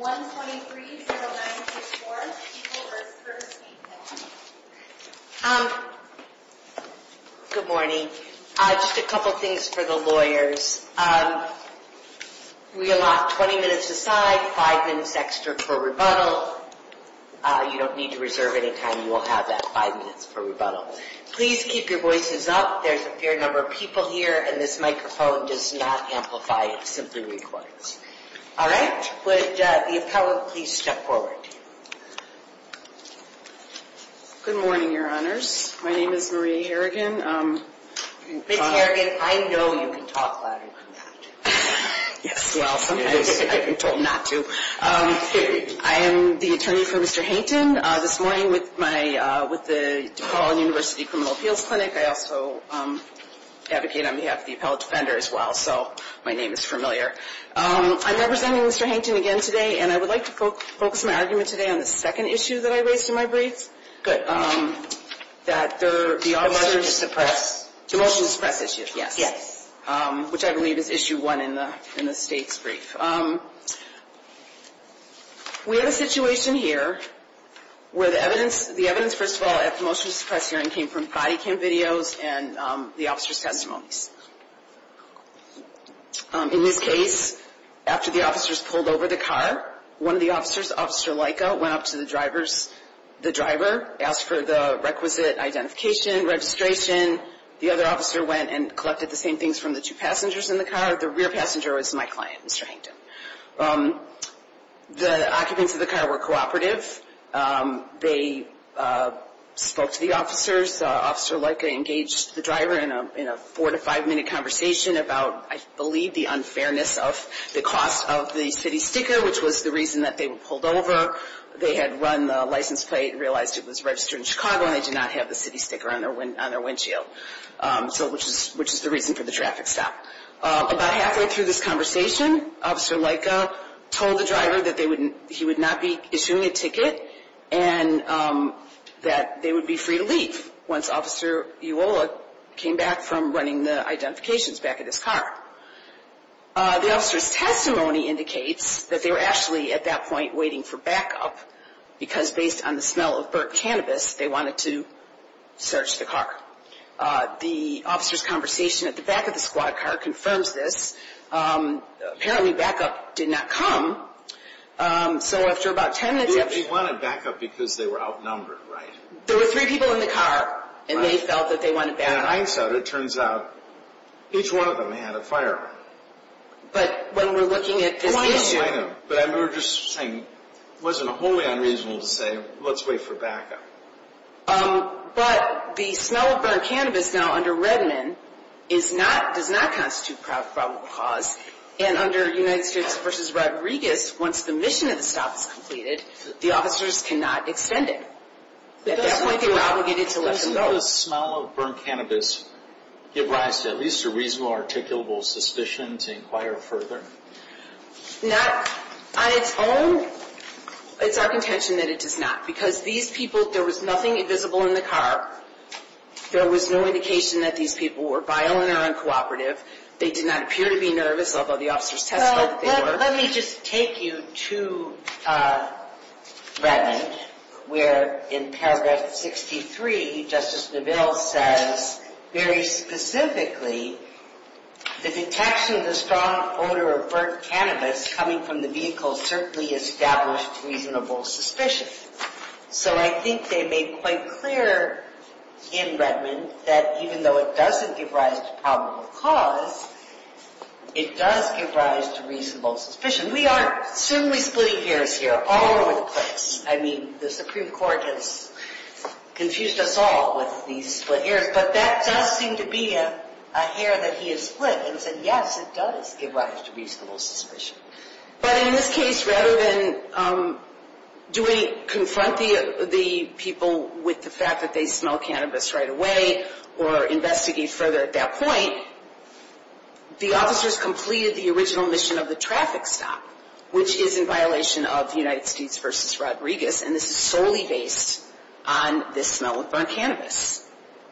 Good morning. Just a couple things for the lawyers. We allot 20 minutes aside, 5 minutes extra for rebuttal. You don't need to reserve any time. You will have that 5 minutes for rebuttal. Please keep your voices up. There's a fair number of people here and this microphone does not amplify. It simply records. All right. Would the appellate please step forward? Marie Harrigan Good morning, your honors. My name is Marie Harrigan. Ms. Harrigan, I know you can talk louder than that. Marie Harrigan Yes, well, sometimes I've been told not to. I am the attorney for Mr. Hankton. This morning with the DePaul University Criminal Appeals Clinic, I also advocate on behalf of the appellate defender as well, so my name is familiar. I'm representing Mr. Hankton again today, and I would like to focus my argument today on the second issue that I raised in my brief. Ms. Harrigan Good. Marie Harrigan That the officers... Ms. Harrigan The motion to suppress. Marie Harrigan The motion to suppress issue. Ms. Harrigan Yes. Marie Harrigan Yes. Ms. Harrigan Which I believe is issue one in the state's brief. We have a situation here where the evidence, the evidence first of all at the motion to suppress hearing came from body cam videos and the officer's testimonies. In this case, after the officers pulled over the car, one of the officers, Officer Laika, went up to the driver, asked for the requisite identification, registration. The other officer went and collected the same things from the two passengers in the car. The rear passenger was my client, Mr. Hankton. The occupants of the car were cooperative. They spoke to the officers. Officer Laika engaged the driver in a four to five minute conversation about, I believe, the unfairness of the cost of the city sticker, which was the reason that they were pulled over. They had run the license plate and realized it was registered in Chicago and they did not have the city sticker on their windshield, which is the reason for the traffic stop. About halfway through this conversation, Officer Laika told the driver that he would not be issuing a ticket and that they would be free to leave once Officer Uwola came back from running the identifications back at his car. The officer's testimony indicates that they were actually at that point waiting for backup because based on the smell of burnt cannabis they wanted to search the car. The officer's conversation at the back of the squad car confirms this. Apparently backup did not come. So after about ten minutes... They wanted backup because they were outnumbered, right? There were three people in the car and they felt that they wanted backup. In hindsight, it turns out each one of them had a firearm. But when we're looking at this issue... But the smell of burnt cannabis now under Redmond does not constitute probable cause. And under United States v. Rodriguez, once the mission of the stop is completed, the officers cannot extend it. At that point they were obligated to let them go. Doesn't the smell of burnt cannabis give rise to at least a reasonable, articulable suspicion to inquire further? On its own, it's our contention that it does not. Because these people... There was nothing invisible in the car. There was no indication that these people were violent or uncooperative. They did not appear to be nervous, although the officers testified that they were. Let me just take you to Redmond, where in paragraph 63, Justice Neville says very specifically, the detection of the strong odor of burnt cannabis coming from the vehicle certainly established reasonable suspicion. So I think they made quite clear in Redmond that even though it doesn't give rise to probable cause, it does give rise to reasonable suspicion. We aren't simply splitting hairs here, all over the place. I mean the Supreme Court has confused us all with these split hairs. But that does seem to be a hair that he has split and said yes, it does give rise to reasonable suspicion. But in this case, rather than do we confront the people with the fact that they smell cannabis right away or investigate further at that point, the officers completed the original mission of the traffic stop, which is in violation of the United States v. Rodriguez. And this is solely based on this smell of burnt cannabis,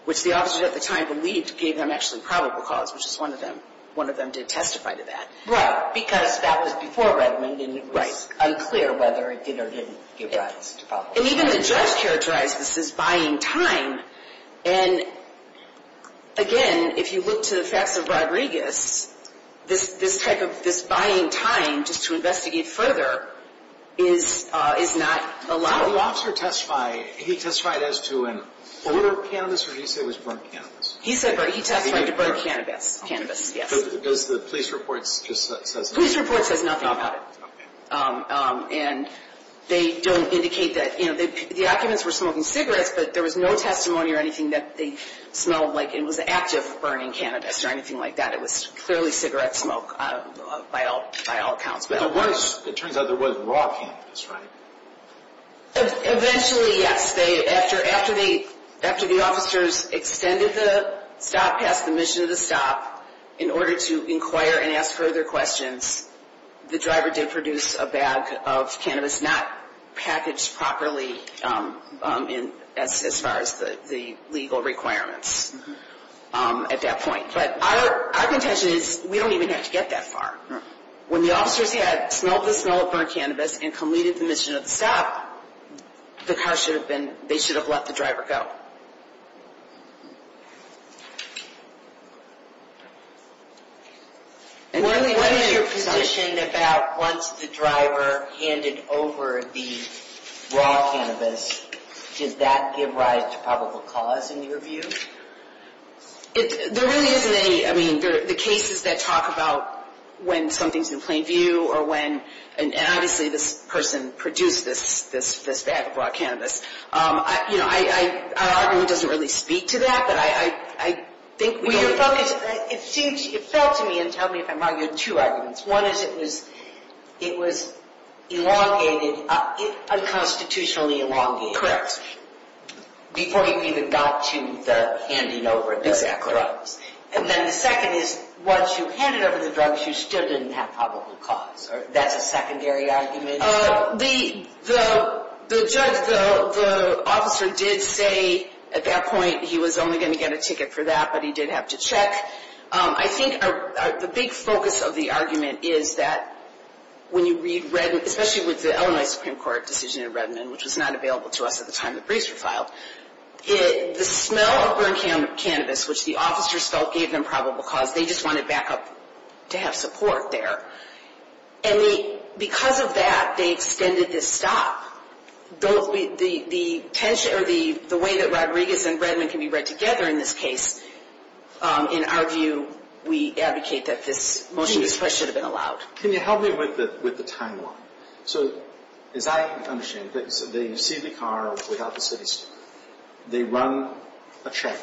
which the officers at the time believed gave them actually probable cause, which is one of them. One of them did testify to that. Because that was before Redmond and it was unclear whether it did or didn't give rise to probable cause. And even the judge characterized this as buying time. And again, if you look to the facts of Rodriguez, this type of buying time just to investigate further is not allowed. So the officer testified, he testified as to an odor of cannabis, or did he say it was burnt cannabis? He testified to burnt cannabis, yes. Does the police report just say that? The police report says nothing about it. And they don't indicate that, you know, the occupants were smoking cigarettes, but there was no testimony or anything that they smelled like it was active burning cannabis or anything like that. It was clearly cigarette smoke by all accounts. But it turns out there was raw cannabis, right? Eventually, yes. After the officers extended the stop, passed the mission of the stop, in order to inquire and ask further questions, the driver did produce a bag of cannabis not packaged properly as far as the legal requirements at that point. But our contention is we don't even have to get that far. When the officers had smelled the smell of burnt cannabis and completed the mission of the stop, the car should have been, they should have let the driver go. What is your position about once the driver handed over the raw cannabis, does that give rise to probable cause in your view? There really isn't any. I mean, the cases that talk about when something's in plain view or when, and obviously this person produced this bag of raw cannabis, you know, our argument doesn't really speak to that. But I think we are focused. It felt to me, and tell me if I'm wrong, you had two arguments. One is it was elongated, unconstitutionally elongated. Correct. Before you even got to the handing over the drugs. And then the second is once you handed over the drugs, you still didn't have probable cause. That's a secondary argument? The judge, the officer did say at that point he was only going to get a ticket for that, but he did have to check. I think the big focus of the argument is that when you read, especially with the Illinois Supreme Court decision in Redmond, which was not available to us at the time the briefs were filed, the smell of burned cannabis, which the officers felt gave them probable cause, they just wanted backup to have support there. And because of that, they extended this stop. The way that Rodriguez and Redmond can be read together in this case, in our view, we advocate that this motion should have been allowed. Can you help me with the timeline? So as I understand it, you see the car without the city street. They run a check.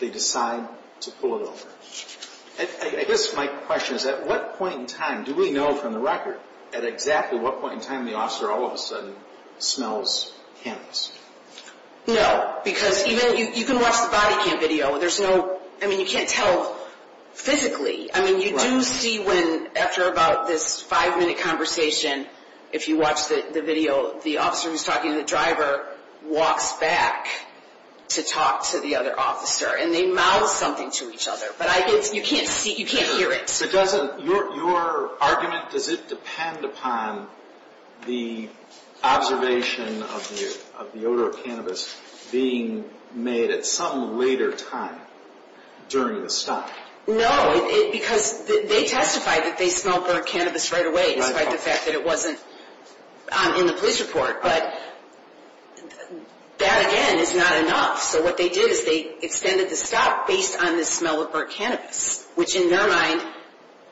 They decide to pull it over. I guess my question is at what point in time do we know from the record at exactly what point in time the officer all of a sudden smells cannabis? No, because you can watch the body cam video. I mean, you can't tell physically. I mean, you do see when after about this five-minute conversation, if you watch the video, the officer who's talking to the driver walks back to talk to the other officer, and they mouth something to each other. But you can't hear it. Your argument, does it depend upon the observation of the odor of cannabis being made at some later time during the stop? No, because they testified that they smelled burnt cannabis right away, despite the fact that it wasn't in the police report. But that, again, is not enough. So what they did is they extended the stop based on the smell of burnt cannabis, which in their mind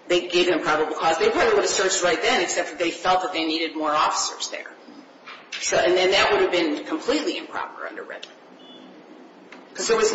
they gave an improbable cause. They probably would have searched right then, except that they felt that they needed more officers there. And then that would have been completely improper under Redmond. Because there was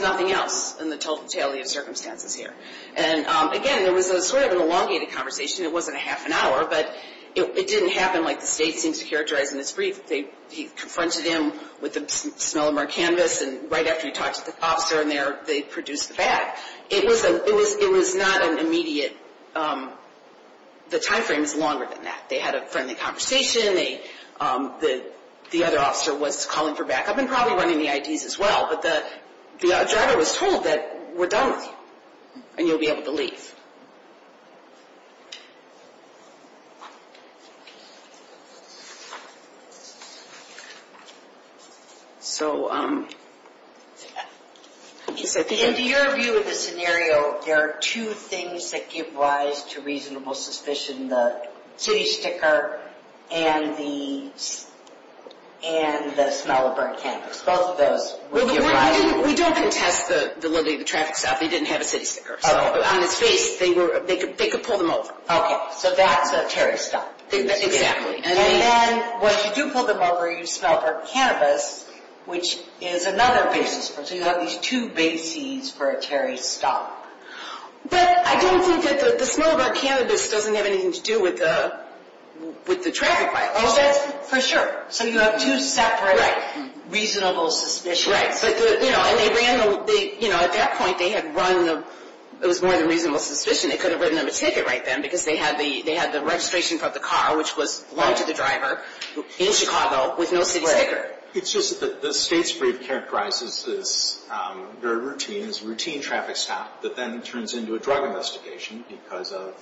nothing else in the totality of circumstances here. And, again, there was sort of an elongated conversation. It wasn't a half an hour, but it didn't happen like the state seems to characterize in this brief. He confronted him with the smell of burnt cannabis, and right after he talked to the officer in there, they produced the fact. It was not an immediate, the time frame is longer than that. They had a friendly conversation. The other officer was calling for backup and probably running the IDs as well. But the driver was told that we're done with you, and you'll be able to leave. In your view of the scenario, there are two things that give rise to reasonable suspicion. The city sticker and the smell of burnt cannabis. Both of those would give rise to... We don't contest the little traffic stop. He didn't have a city sticker, so on his face, they could pull them over. Okay, so that's a Terry stop. And then once you do pull them over, you smell burnt cannabis, which is another basis. So you have these two bases for a Terry stop. But I don't think that the smell of burnt cannabis doesn't have anything to do with the traffic light. Oh, that's for sure. So you have two separate reasonable suspicions. Right. At that point, it was more than a reasonable suspicion. They could have written him a ticket right then, because they had the registration for the car, which belonged to the driver, in Chicago, with no city sticker. It's just that the state's brief characterizes this very routinely as a routine traffic stop that then turns into a drug investigation because of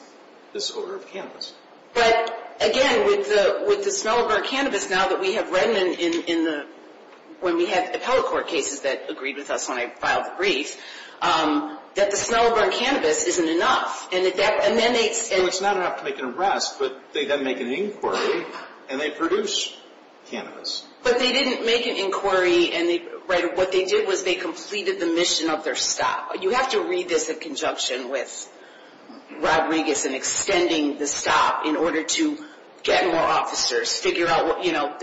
this odor of cannabis. But again, with the smell of burnt cannabis, now that we have read in the... when we had the appellate court cases that agreed with us when I filed the brief, that the smell of burnt cannabis isn't enough. And then they... It's not enough to make an arrest, but they then make an inquiry, and they produce cannabis. But they didn't make an inquiry, and they... What they did was they completed the mission of their stop. You have to read this in conjunction with Rodriguez and extending the stop in order to get more officers, figure out what... You know,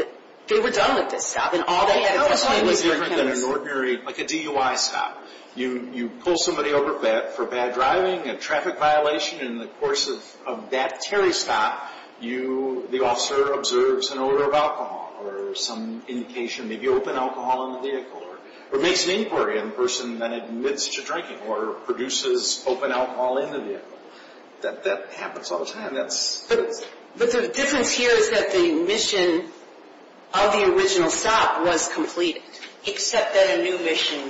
they were done with this stop, and all they had at this point was burnt cannabis. It was different than an ordinary... like a DUI stop. You pull somebody over for bad driving, a traffic violation, and in the course of that Terry stop, the officer observes an odor of alcohol or some indication, maybe open alcohol in the vehicle, or makes an inquiry on the person that admits to drinking or produces open alcohol in the vehicle. That happens all the time. That's... But the difference here is that the mission of the original stop was completed, except that a new mission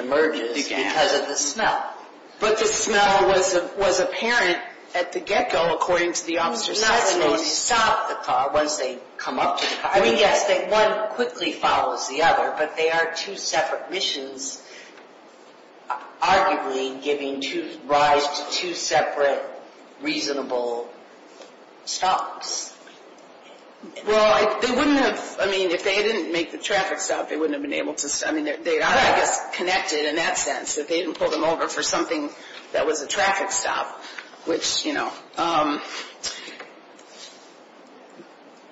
emerges because of the smell. But the smell was apparent at the get-go, according to the officer's testimony. It was not to stop the car once they come up to the car. I mean, yes, one quickly follows the other, but they are two separate missions, arguably giving rise to two separate reasonable stops. Well, they wouldn't have... I mean, if they didn't make the traffic stop, they wouldn't have been able to... I mean, they are, I guess, connected in that sense, that they didn't pull them over for something that was a traffic stop, which, you know...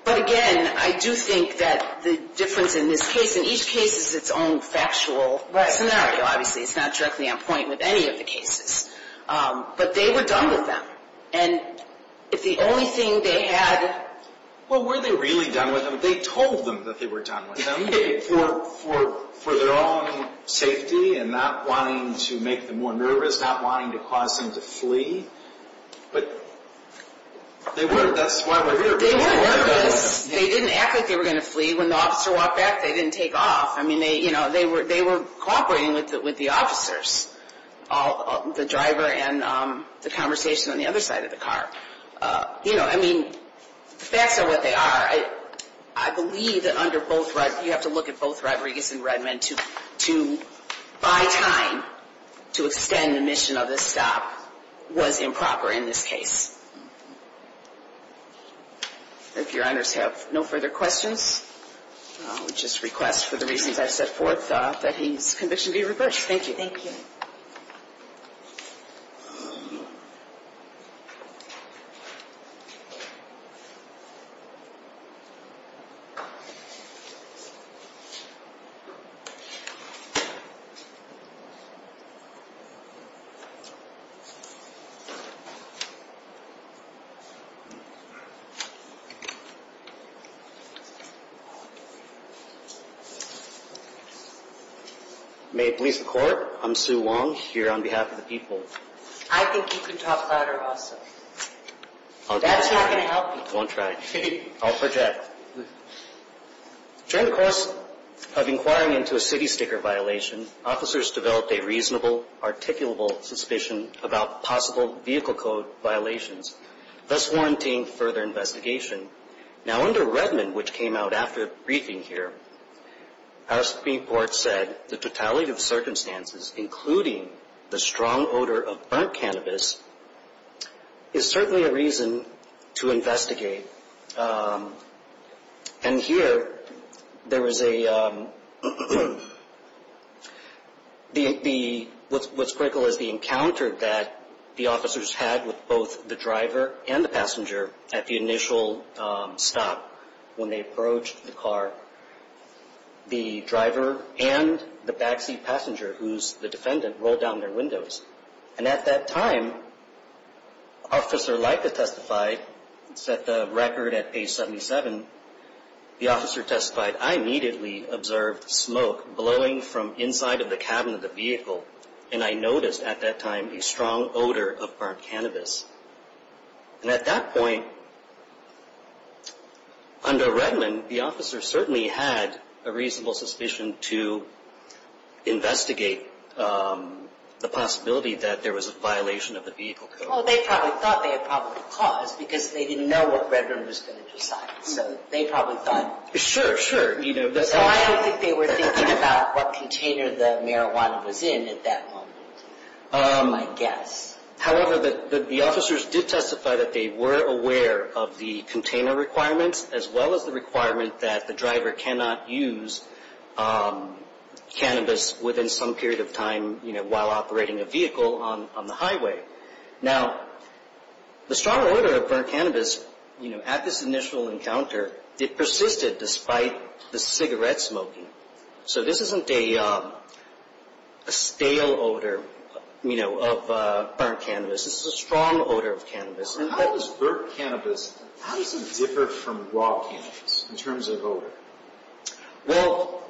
But again, I do think that the difference in this case... And each case is its own factual scenario, obviously. It's not directly on point with any of the cases. But they were done with them, and if the only thing they had... Well, were they really done with them? They told them that they were done with them for their own safety and not wanting to make them more nervous, not wanting to cause them to flee. But they were. That's why we're here. They were nervous. They didn't act like they were going to flee. When the officer walked back, they didn't take off. I mean, they were cooperating with the officers, the driver and the conversation on the other side of the car. You know, I mean, the facts are what they are. I believe that under both... You have to look at both Rodriguez and Redmond to, by time, to extend the mission of this stop was improper in this case. If your honors have no further questions, I would just request for the reasons I've set forth that his conviction be reversed. Thank you. Thank you. May it please the Court, I'm Sue Wong here on behalf of the people. I think you can talk louder also. I'll try. That's not going to help you. I just won't try. I'll project. During the course of inquiring into a city sticker violation, officers developed a reasonable, articulable suspicion about possible vehicle code violations, thus warranting further investigation. Now, under Redmond, which came out after briefing here, our Supreme Court said the totality of circumstances, including the strong odor of burnt cannabis, is certainly a reason to investigate. And here, there was a... What's critical is the encounter that the officers had with both the driver and the passenger at the initial stop when they approached the car. The driver and the backseat passenger, who's the defendant, rolled down their windows. And at that time, Officer Leica testified. It's at the record at page 77. The officer testified, I immediately observed smoke blowing from inside of the cabin of the vehicle, and I noticed at that time a strong odor of burnt cannabis. And at that point, under Redmond, the officer certainly had a reasonable suspicion to investigate the possibility that there was a violation of the vehicle code. Well, they probably thought they had probably caused, because they didn't know what Redmond was going to decide. So they probably thought... Sure, sure. So I don't think they were thinking about what container the marijuana was in at that moment, I guess. However, the officers did testify that they were aware of the container requirements, as well as the requirement that the driver cannot use cannabis within some period of time, you know, while operating a vehicle on the highway. Now, the strong odor of burnt cannabis, you know, at this initial encounter, it persisted despite the cigarette smoking. So this isn't a stale odor, you know, of burnt cannabis. This is a strong odor of cannabis. How does burnt cannabis, how does it differ from raw cannabis in terms of odor? Well,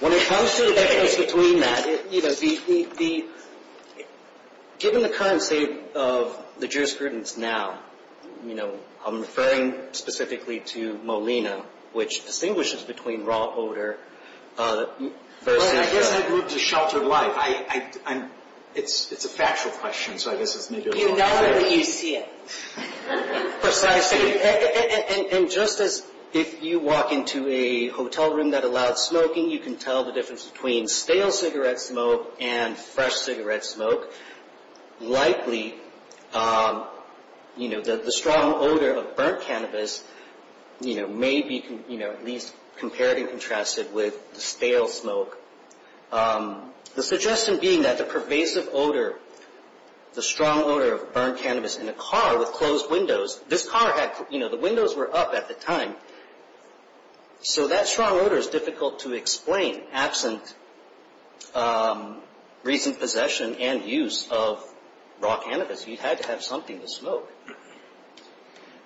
when it comes to the difference between that, you know, given the current state of the jurisprudence now, you know, I'm referring specifically to Molina, which distinguishes between raw odor versus... Well, I guess I'd move to sheltered life. It's a factual question, so I guess it's maybe... You know it, but you see it. Precisely. And just as if you walk into a hotel room that allowed smoking, you can tell the difference between stale cigarette smoke and fresh cigarette smoke. Likely, you know, the strong odor of burnt cannabis, you know, may be at least compared and contrasted with stale smoke. The suggestion being that the pervasive odor, the strong odor of burnt cannabis in a car with closed windows, this car had, you know, the windows were up at the time. So that strong odor is difficult to explain absent recent possession and use of raw cannabis. You had to have something to smoke.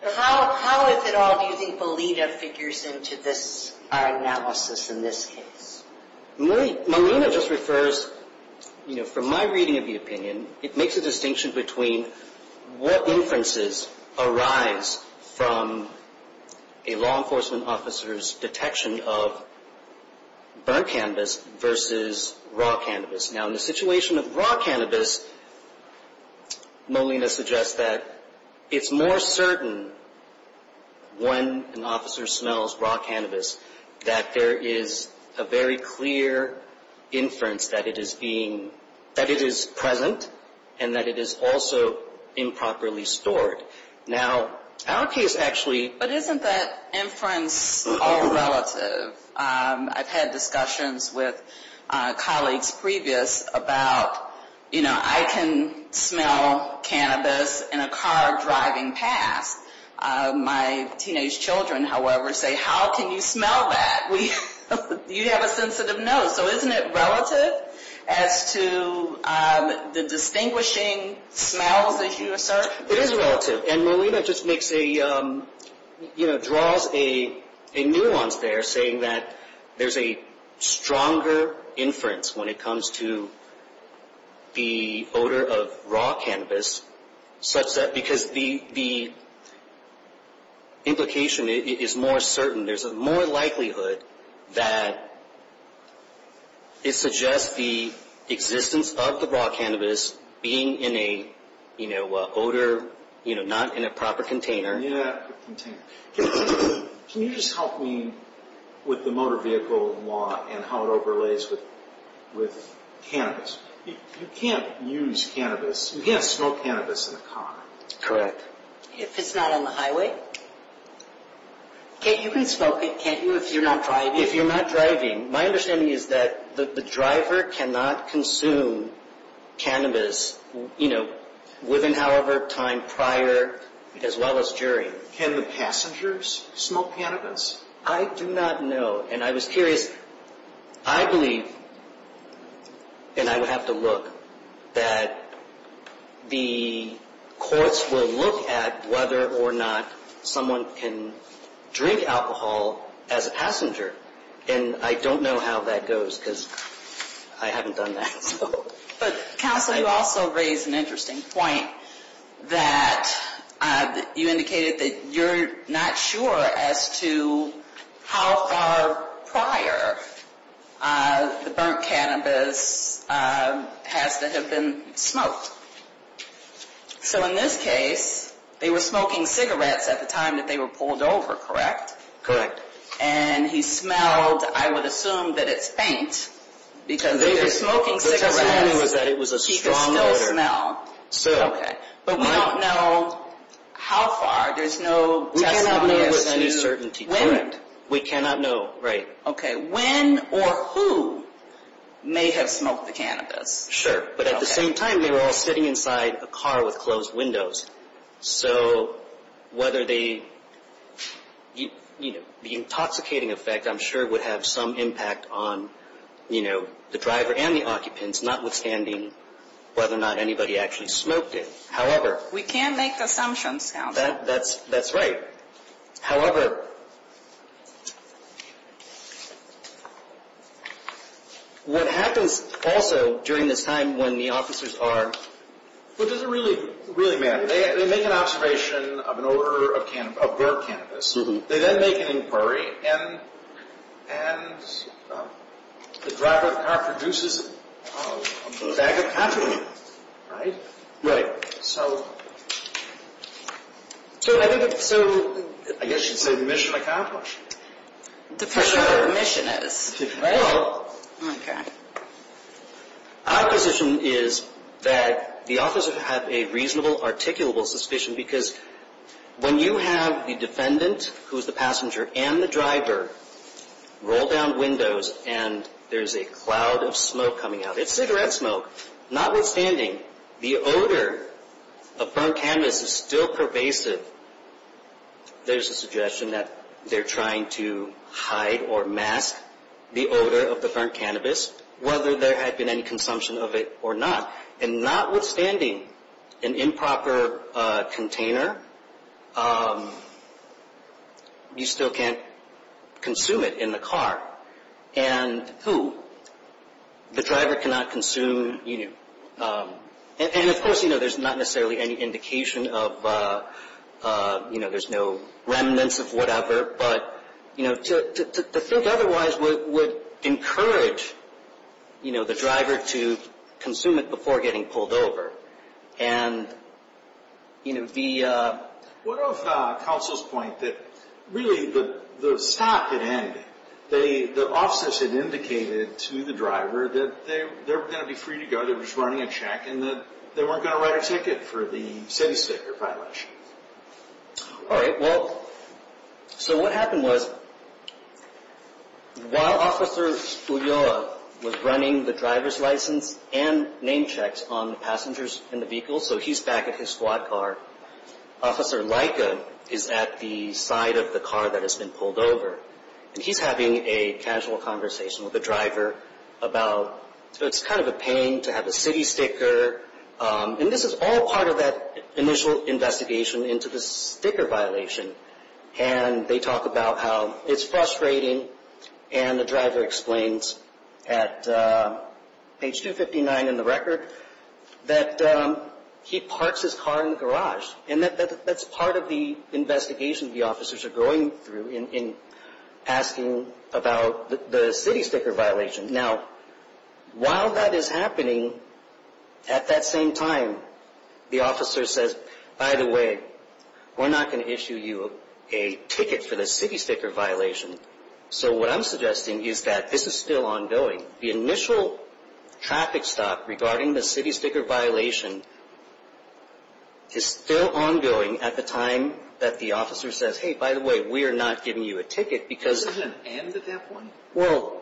How is it all using Molina figures into this analysis in this case? Molina just refers, you know, from my reading of the opinion, it makes a distinction between what inferences arise from a law enforcement officer's detection of burnt cannabis versus raw cannabis. Now, in the situation of raw cannabis, Molina suggests that it's more certain when an officer smells raw cannabis that there is a very clear inference that it is being, that it is present and that it is also improperly stored. Now, our case actually. But isn't that inference all relative? I've had discussions with colleagues previous about, you know, I can smell cannabis in a car driving past. My teenage children, however, say, how can you smell that? You have a sensitive nose. So isn't it relative as to the distinguishing smells that you assert? It is relative. And Molina just makes a, you know, draws a nuance there saying that there's a stronger inference when it comes to the odor of raw cannabis, such that because the implication is more certain. There's a more likelihood that it suggests the existence of the raw cannabis being in a, you know, odor, you know, not in a proper container. Yeah. Can you just help me with the motor vehicle law and how it overlays with cannabis? You can't use cannabis. You can't smoke cannabis in a car. If it's not on the highway? You can smoke it, can't you, if you're not driving? If you're not driving. My understanding is that the driver cannot consume cannabis, you know, within however time prior as well as during. Can the passengers smoke cannabis? I do not know. And I was curious. I believe, and I would have to look, that the courts will look at whether or not someone can drink alcohol as a passenger. And I don't know how that goes because I haven't done that. Counsel, you also raised an interesting point that you indicated that you're not sure as to how far prior the burnt cannabis has to have been smoked. So in this case, they were smoking cigarettes at the time that they were pulled over, correct? Correct. And he smelled, I would assume, that it's paint because they were smoking cigarettes. The testimony was that it was a strong odor. He could still smell. Still. Okay. But we don't know how far. There's no testimony as to when. We cannot know with any certainty. Correct. We cannot know. Right. Okay. When or who may have smoked the cannabis? Sure. But at the same time, they were all sitting inside a car with closed windows. So whether they, you know, the intoxicating effect, I'm sure, would have some impact on, you know, the driver and the occupants, notwithstanding whether or not anybody actually smoked it. However. We can't make assumptions, Counsel. That's right. However, what happens also during this time when the officers are... Really, Matt, they make an observation of an odor of their cannabis. They then make an inquiry, and the driver of the car produces a bag of caffeine, right? Right. So I guess you'd say the mission accomplished. Depends on what the mission is. Well. Okay. Our position is that the officers have a reasonable, articulable suspicion because when you have the defendant, who is the passenger, and the driver roll down windows and there is a cloud of smoke coming out. It's cigarette smoke. Notwithstanding, the odor of burnt cannabis is still pervasive. There's a suggestion that they're trying to hide or mask the odor of the burnt cannabis, whether there had been any consumption of it or not. And notwithstanding an improper container, you still can't consume it in the car. And who? The driver cannot consume... And, of course, there's not necessarily any indication of... There's no remnants of whatever, but to think otherwise would encourage the driver to consume it before getting pulled over. And the... What of Counsel's point that, really, the stop had ended. The officers had indicated to the driver that they were going to be free to go. They were just running a check and that they weren't going to write a ticket for the city sticker violation. All right. Well, so what happened was while Officer Ulloa was running the driver's license and name checks on the passengers in the vehicle, so he's back at his squad car, Officer Laika is at the side of the car that has been pulled over. And he's having a casual conversation with the driver about... So it's kind of a pain to have a city sticker. And this is all part of that initial investigation into the sticker violation. And they talk about how it's frustrating. And the driver explains at page 259 in the record that he parks his car in the garage. And that's part of the investigation the officers are going through in asking about the city sticker violation. Now, while that is happening, at that same time, the officer says, By the way, we're not going to issue you a ticket for the city sticker violation. So what I'm suggesting is that this is still ongoing. The initial traffic stop regarding the city sticker violation is still ongoing at the time that the officer says, Hey, by the way, we are not giving you a ticket because... Is there an end at that point? Well,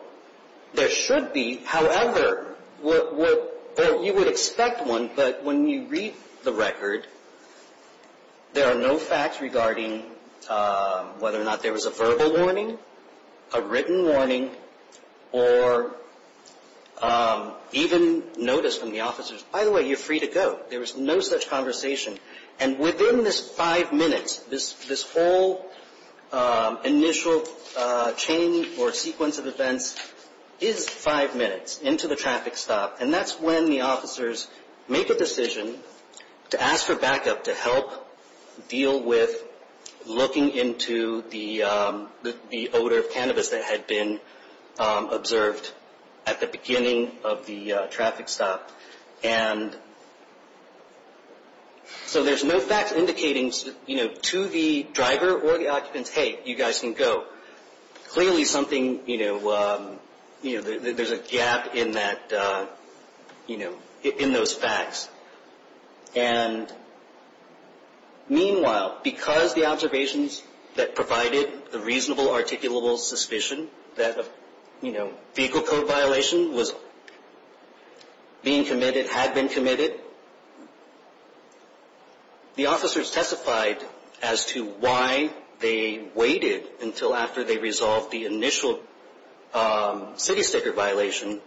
there should be. However, you would expect one. But when you read the record, there are no facts regarding whether or not there was a verbal warning, a written warning, or even notice from the officers. By the way, you're free to go. There was no such conversation. And within this five minutes, this whole initial chain or sequence of events is five minutes into the traffic stop. And that's when the officers make a decision to ask for backup to help deal with looking into the odor of cannabis that had been observed at the beginning of the traffic stop. And so there's no facts indicating to the driver or the occupants, Hey, you guys can go. Clearly, there's a gap in those facts. And meanwhile, because the observations that provided the reasonable articulable suspicion that a vehicle code violation was being committed, had been committed, the officers testified as to why they waited until after they resolved the initial city sticker violation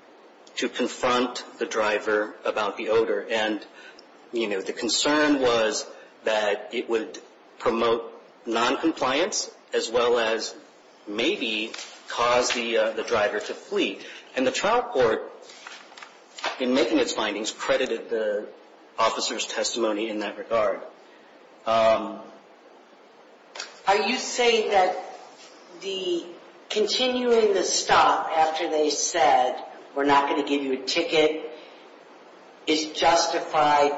to confront the driver about the odor. And, you know, the concern was that it would promote noncompliance as well as maybe cause the driver to flee. And the trial court, in making its findings, credited the officers' testimony in that regard. Are you saying that the continuing the stop after they said we're not going to give you a ticket is justified?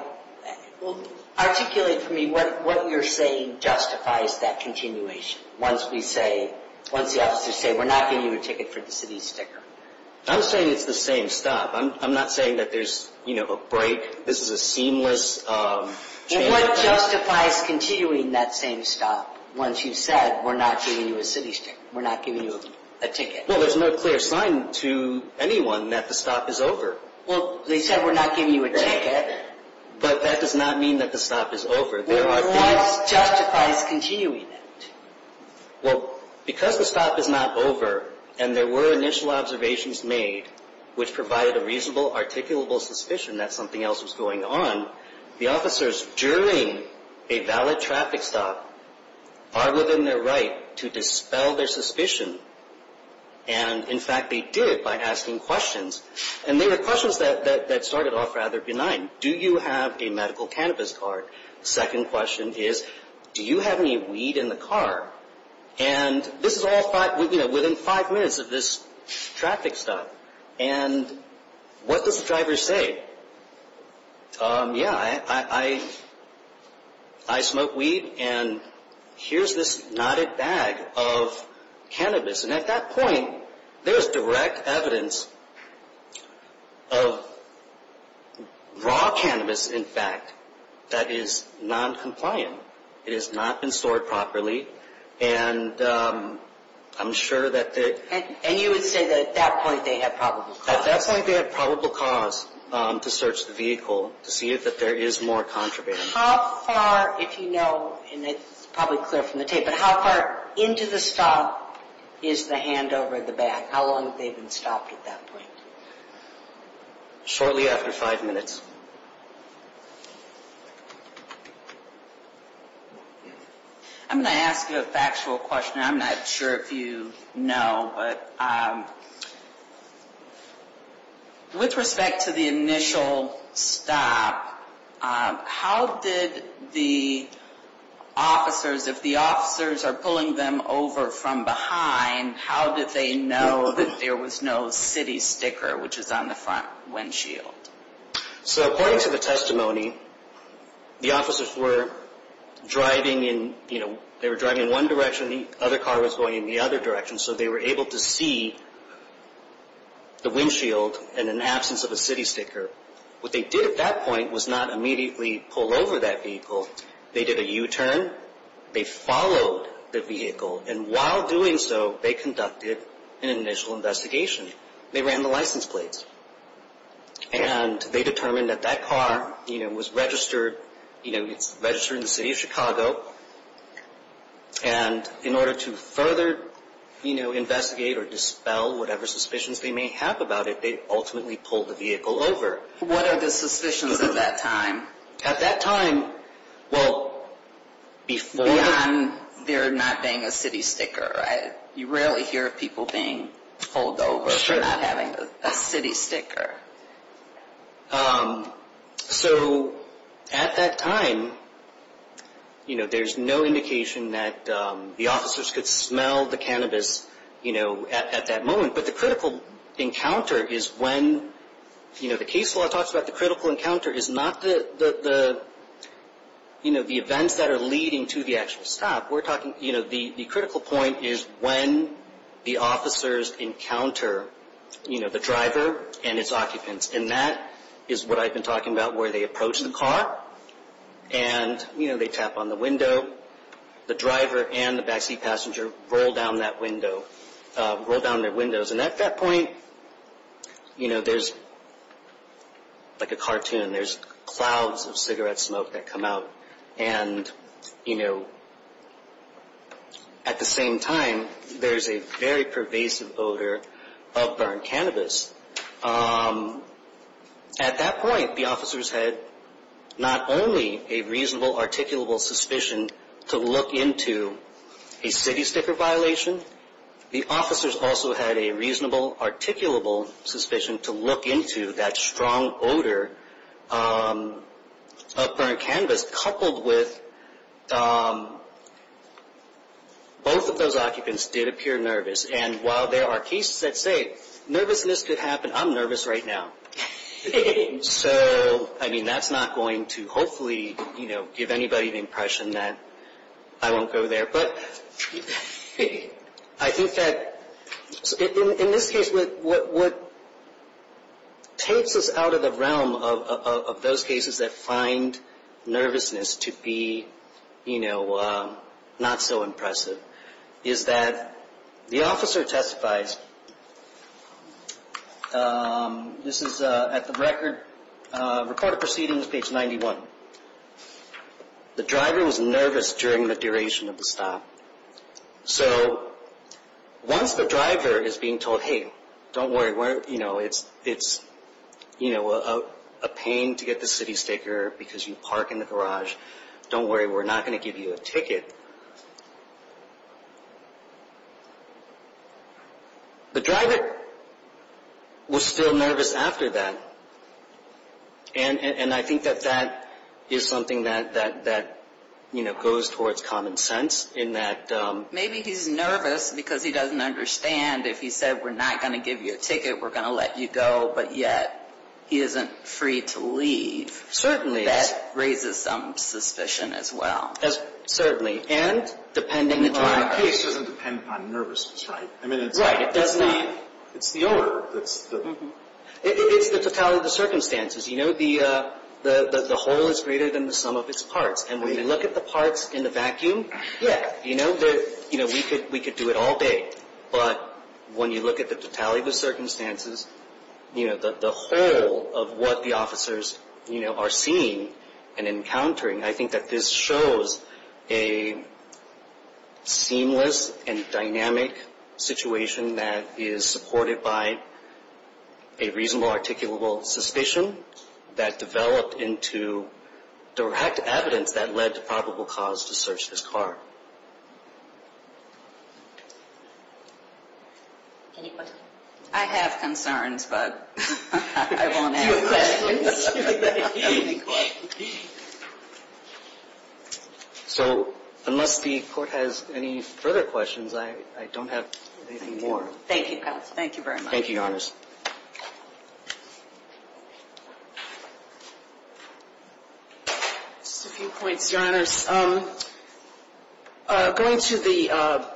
Well, articulate for me what you're saying justifies that continuation once we say, once the officers say we're not giving you a ticket for the city sticker. I'm saying it's the same stop. I'm not saying that there's a break. This is a seamless change. What justifies continuing that same stop once you said we're not giving you a city sticker? We're not giving you a ticket? Well, there's no clear sign to anyone that the stop is over. Well, they said we're not giving you a ticket. But that does not mean that the stop is over. What justifies continuing it? Well, because the stop is not over and there were initial observations made, which provided a reasonable, articulable suspicion that something else was going on, the officers, during a valid traffic stop, are within their right to dispel their suspicion. And, in fact, they did by asking questions. And they were questions that started off rather benign. Do you have a medical cannabis card? The second question is, do you have any weed in the car? And this is all within five minutes of this traffic stop. And what does the driver say? Yeah, I smoke weed, and here's this knotted bag of cannabis. And at that point, there's direct evidence of raw cannabis, in fact, that is noncompliant. It has not been stored properly. And I'm sure that the – And you would say that at that point they had probable cause. At that point they had probable cause to search the vehicle to see if there is more contraband. How far, if you know, and it's probably clear from the tape, but how far into the stop is the hand over the bag? How long had they been stopped at that point? Shortly after five minutes. I'm going to ask you a factual question. I'm not sure if you know, but with respect to the initial stop, how did the officers, if the officers are pulling them over from behind, how did they know that there was no city sticker, which is on the front windshield? So according to the testimony, the officers were driving in, you know, they were driving in one direction and the other car was going in the other direction, so they were able to see the windshield and an absence of a city sticker. What they did at that point was not immediately pull over that vehicle. They did a U-turn. They followed the vehicle. And while doing so, they conducted an initial investigation. They ran the license plates. And they determined that that car, you know, was registered, you know, it's registered in the city of Chicago. And in order to further, you know, investigate or dispel whatever suspicions they may have about it, they ultimately pulled the vehicle over. What are the suspicions at that time? At that time, well, beyond there not being a city sticker, you rarely hear of people being pulled over for not having a city sticker. So at that time, you know, there's no indication that the officers could smell the cannabis, you know, at that moment. But the critical encounter is when, you know, the case law talks about the critical encounter is not the, you know, the events that are leading to the actual stop. We're talking, you know, the critical point is when the officers encounter, you know, the driver and its occupants. And that is what I've been talking about where they approach the car and, you know, they tap on the window. The driver and the backseat passenger roll down that window, roll down their windows. And at that point, you know, there's like a cartoon. There's clouds of cigarette smoke that come out. And, you know, at the same time, there's a very pervasive odor of burned cannabis. At that point, the officers had not only a reasonable, articulable suspicion to look into a city sticker violation, the officers also had a reasonable, articulable suspicion to look into that strong odor of burned cannabis, coupled with both of those occupants did appear nervous. And while there are cases that say nervousness could happen, I'm nervous right now. So, I mean, that's not going to hopefully, you know, give anybody the impression that I won't go there. But I think that in this case, what takes us out of the realm of those cases that find nervousness to be, you know, not so impressive is that the officer testifies. This is at the Record of Proceedings, page 91. The driver was nervous during the duration of the stop. So once the driver is being told, hey, don't worry, you know, it's a pain to get the city sticker because you park in the garage. Don't worry, we're not going to give you a ticket. The driver was still nervous after that. And I think that that is something that, you know, goes towards common sense in that. Maybe he's nervous because he doesn't understand if he said we're not going to give you a ticket, we're going to let you go, but yet he isn't free to leave. Certainly. And that raises some suspicion as well. Certainly. And depending on the driver. The case doesn't depend on nervousness, right? Right. It's the owner. It's the totality of the circumstances. You know, the whole is greater than the sum of its parts. And when you look at the parts in the vacuum, yeah, you know, we could do it all day. But when you look at the totality of the circumstances, you know, the whole of what the officers, you know, are seeing and encountering, I think that this shows a seamless and dynamic situation that is supported by a reasonable, articulable suspicion that developed into direct evidence that led to probable cause to search this car. Any questions? I have concerns, but I won't ask questions. So unless the court has any further questions, I don't have anything more. Thank you, counsel. Thank you very much. Thank you, Your Honors. Just a few points, Your Honors. Going to the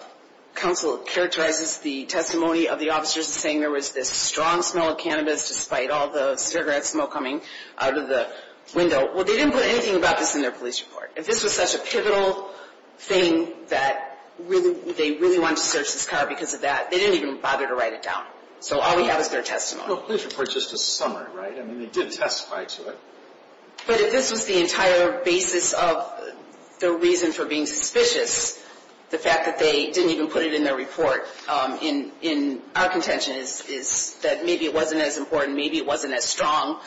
counsel characterizes the testimony of the officers saying there was this strong smell of cannabis, despite all the cigarette smoke coming out of the window. Well, they didn't put anything about this in their police report. If this was such a pivotal thing that they really wanted to search this car because of that, they didn't even bother to write it down. So all we have is their testimony. Well, the police report is just a summary, right? I mean, they did testify to it. But if this was the entire basis of the reason for being suspicious, the fact that they didn't even put it in their report in our contention is that maybe it wasn't as important, maybe it wasn't as strong.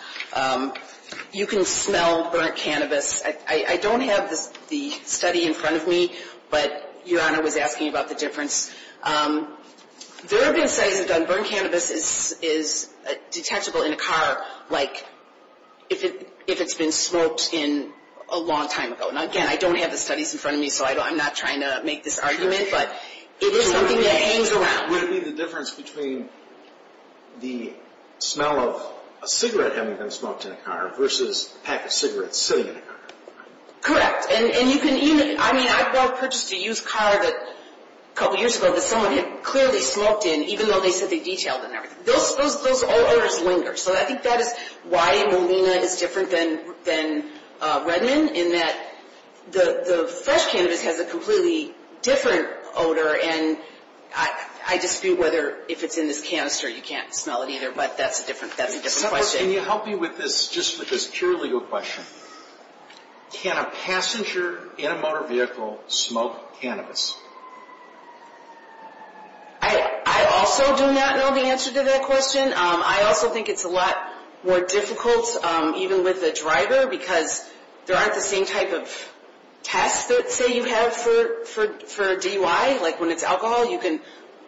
You can smell burnt cannabis. I don't have the study in front of me, but Your Honor was asking about the difference. There have been studies that burnt cannabis is detectable in a car like if it's been smoked in a long time ago. Now, again, I don't have the studies in front of me, so I'm not trying to make this argument, but it is something that hangs around. Would it be the difference between the smell of a cigarette having been smoked in a car versus a pack of cigarettes sitting in a car? Correct. I mean, I purchased a used car a couple years ago that someone had clearly smoked in, even though they said they detailed it and everything. Those odors linger. So I think that is why Molina is different than Redmond, in that the fresh cannabis has a completely different odor, and I dispute whether if it's in this canister you can't smell it either, but that's a different question. Can you help me with this, just with this purely legal question? Can a passenger in a motor vehicle smoke cannabis? I also do not know the answer to that question. I also think it's a lot more difficult, even with a driver, because there aren't the same type of tests, say, you have for DUI. Like when it's alcohol, you can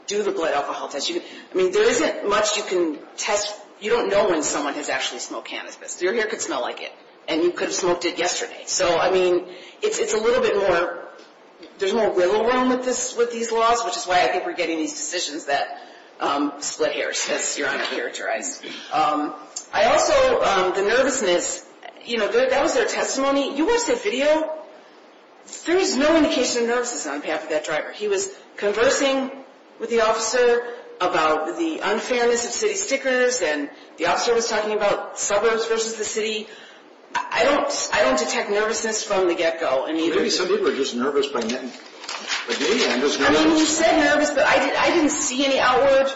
do the blood alcohol test. I mean, there isn't much you can test. You don't know when someone has actually smoked cannabis. Your hair could smell like it, and you could have smoked it yesterday. So, I mean, it's a little bit more, there's more wiggle room with these laws, which is why I think we're getting these decisions that split hairs, because you're uncharacterized. I also, the nervousness, you know, that was their testimony. You watch that video, there is no indication of nervousness on behalf of that driver. He was conversing with the officer about the unfairness of city stickers, and the officer was talking about suburbs versus the city. I don't detect nervousness from the get-go. Maybe some people are just nervous by name. I mean, you said nervous, but I didn't see any outward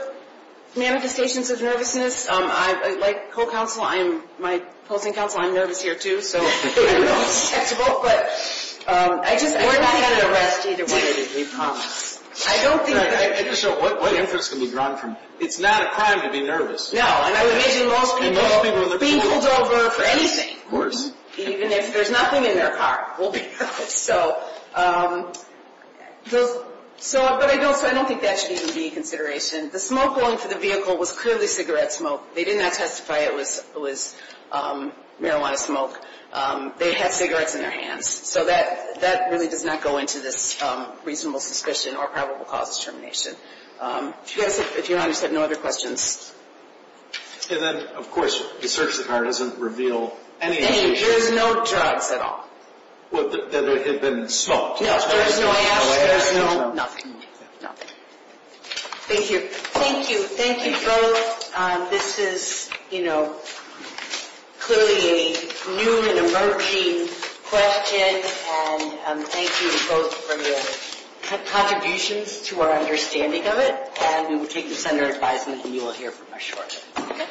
manifestations of nervousness. Like co-counsel, I'm my opposing counsel, I'm nervous here too, so I don't know if it's detectable. We're not going to arrest either one of you, we promise. I just don't know what inference can be drawn from it. It's not a crime to be nervous. No, and I would imagine most people being pulled over for anything. Of course. Even if there's nothing in their car. So, but I don't think that should even be a consideration. The smoke going through the vehicle was clearly cigarette smoke. They did not testify it was marijuana smoke. They had cigarettes in their hands. So that really does not go into this reasonable suspicion or probable cause of termination. If you're honest, I have no other questions. And then, of course, the search of the car doesn't reveal any indications. There's no drugs at all. That it had been smoked. No, there's no ash, there's no nothing. Thank you. Thank you. Thank you both. This is, you know, clearly a new and emerging question. And thank you both for your contributions to our understanding of it. And we will take this under advisement and you will hear from us shortly.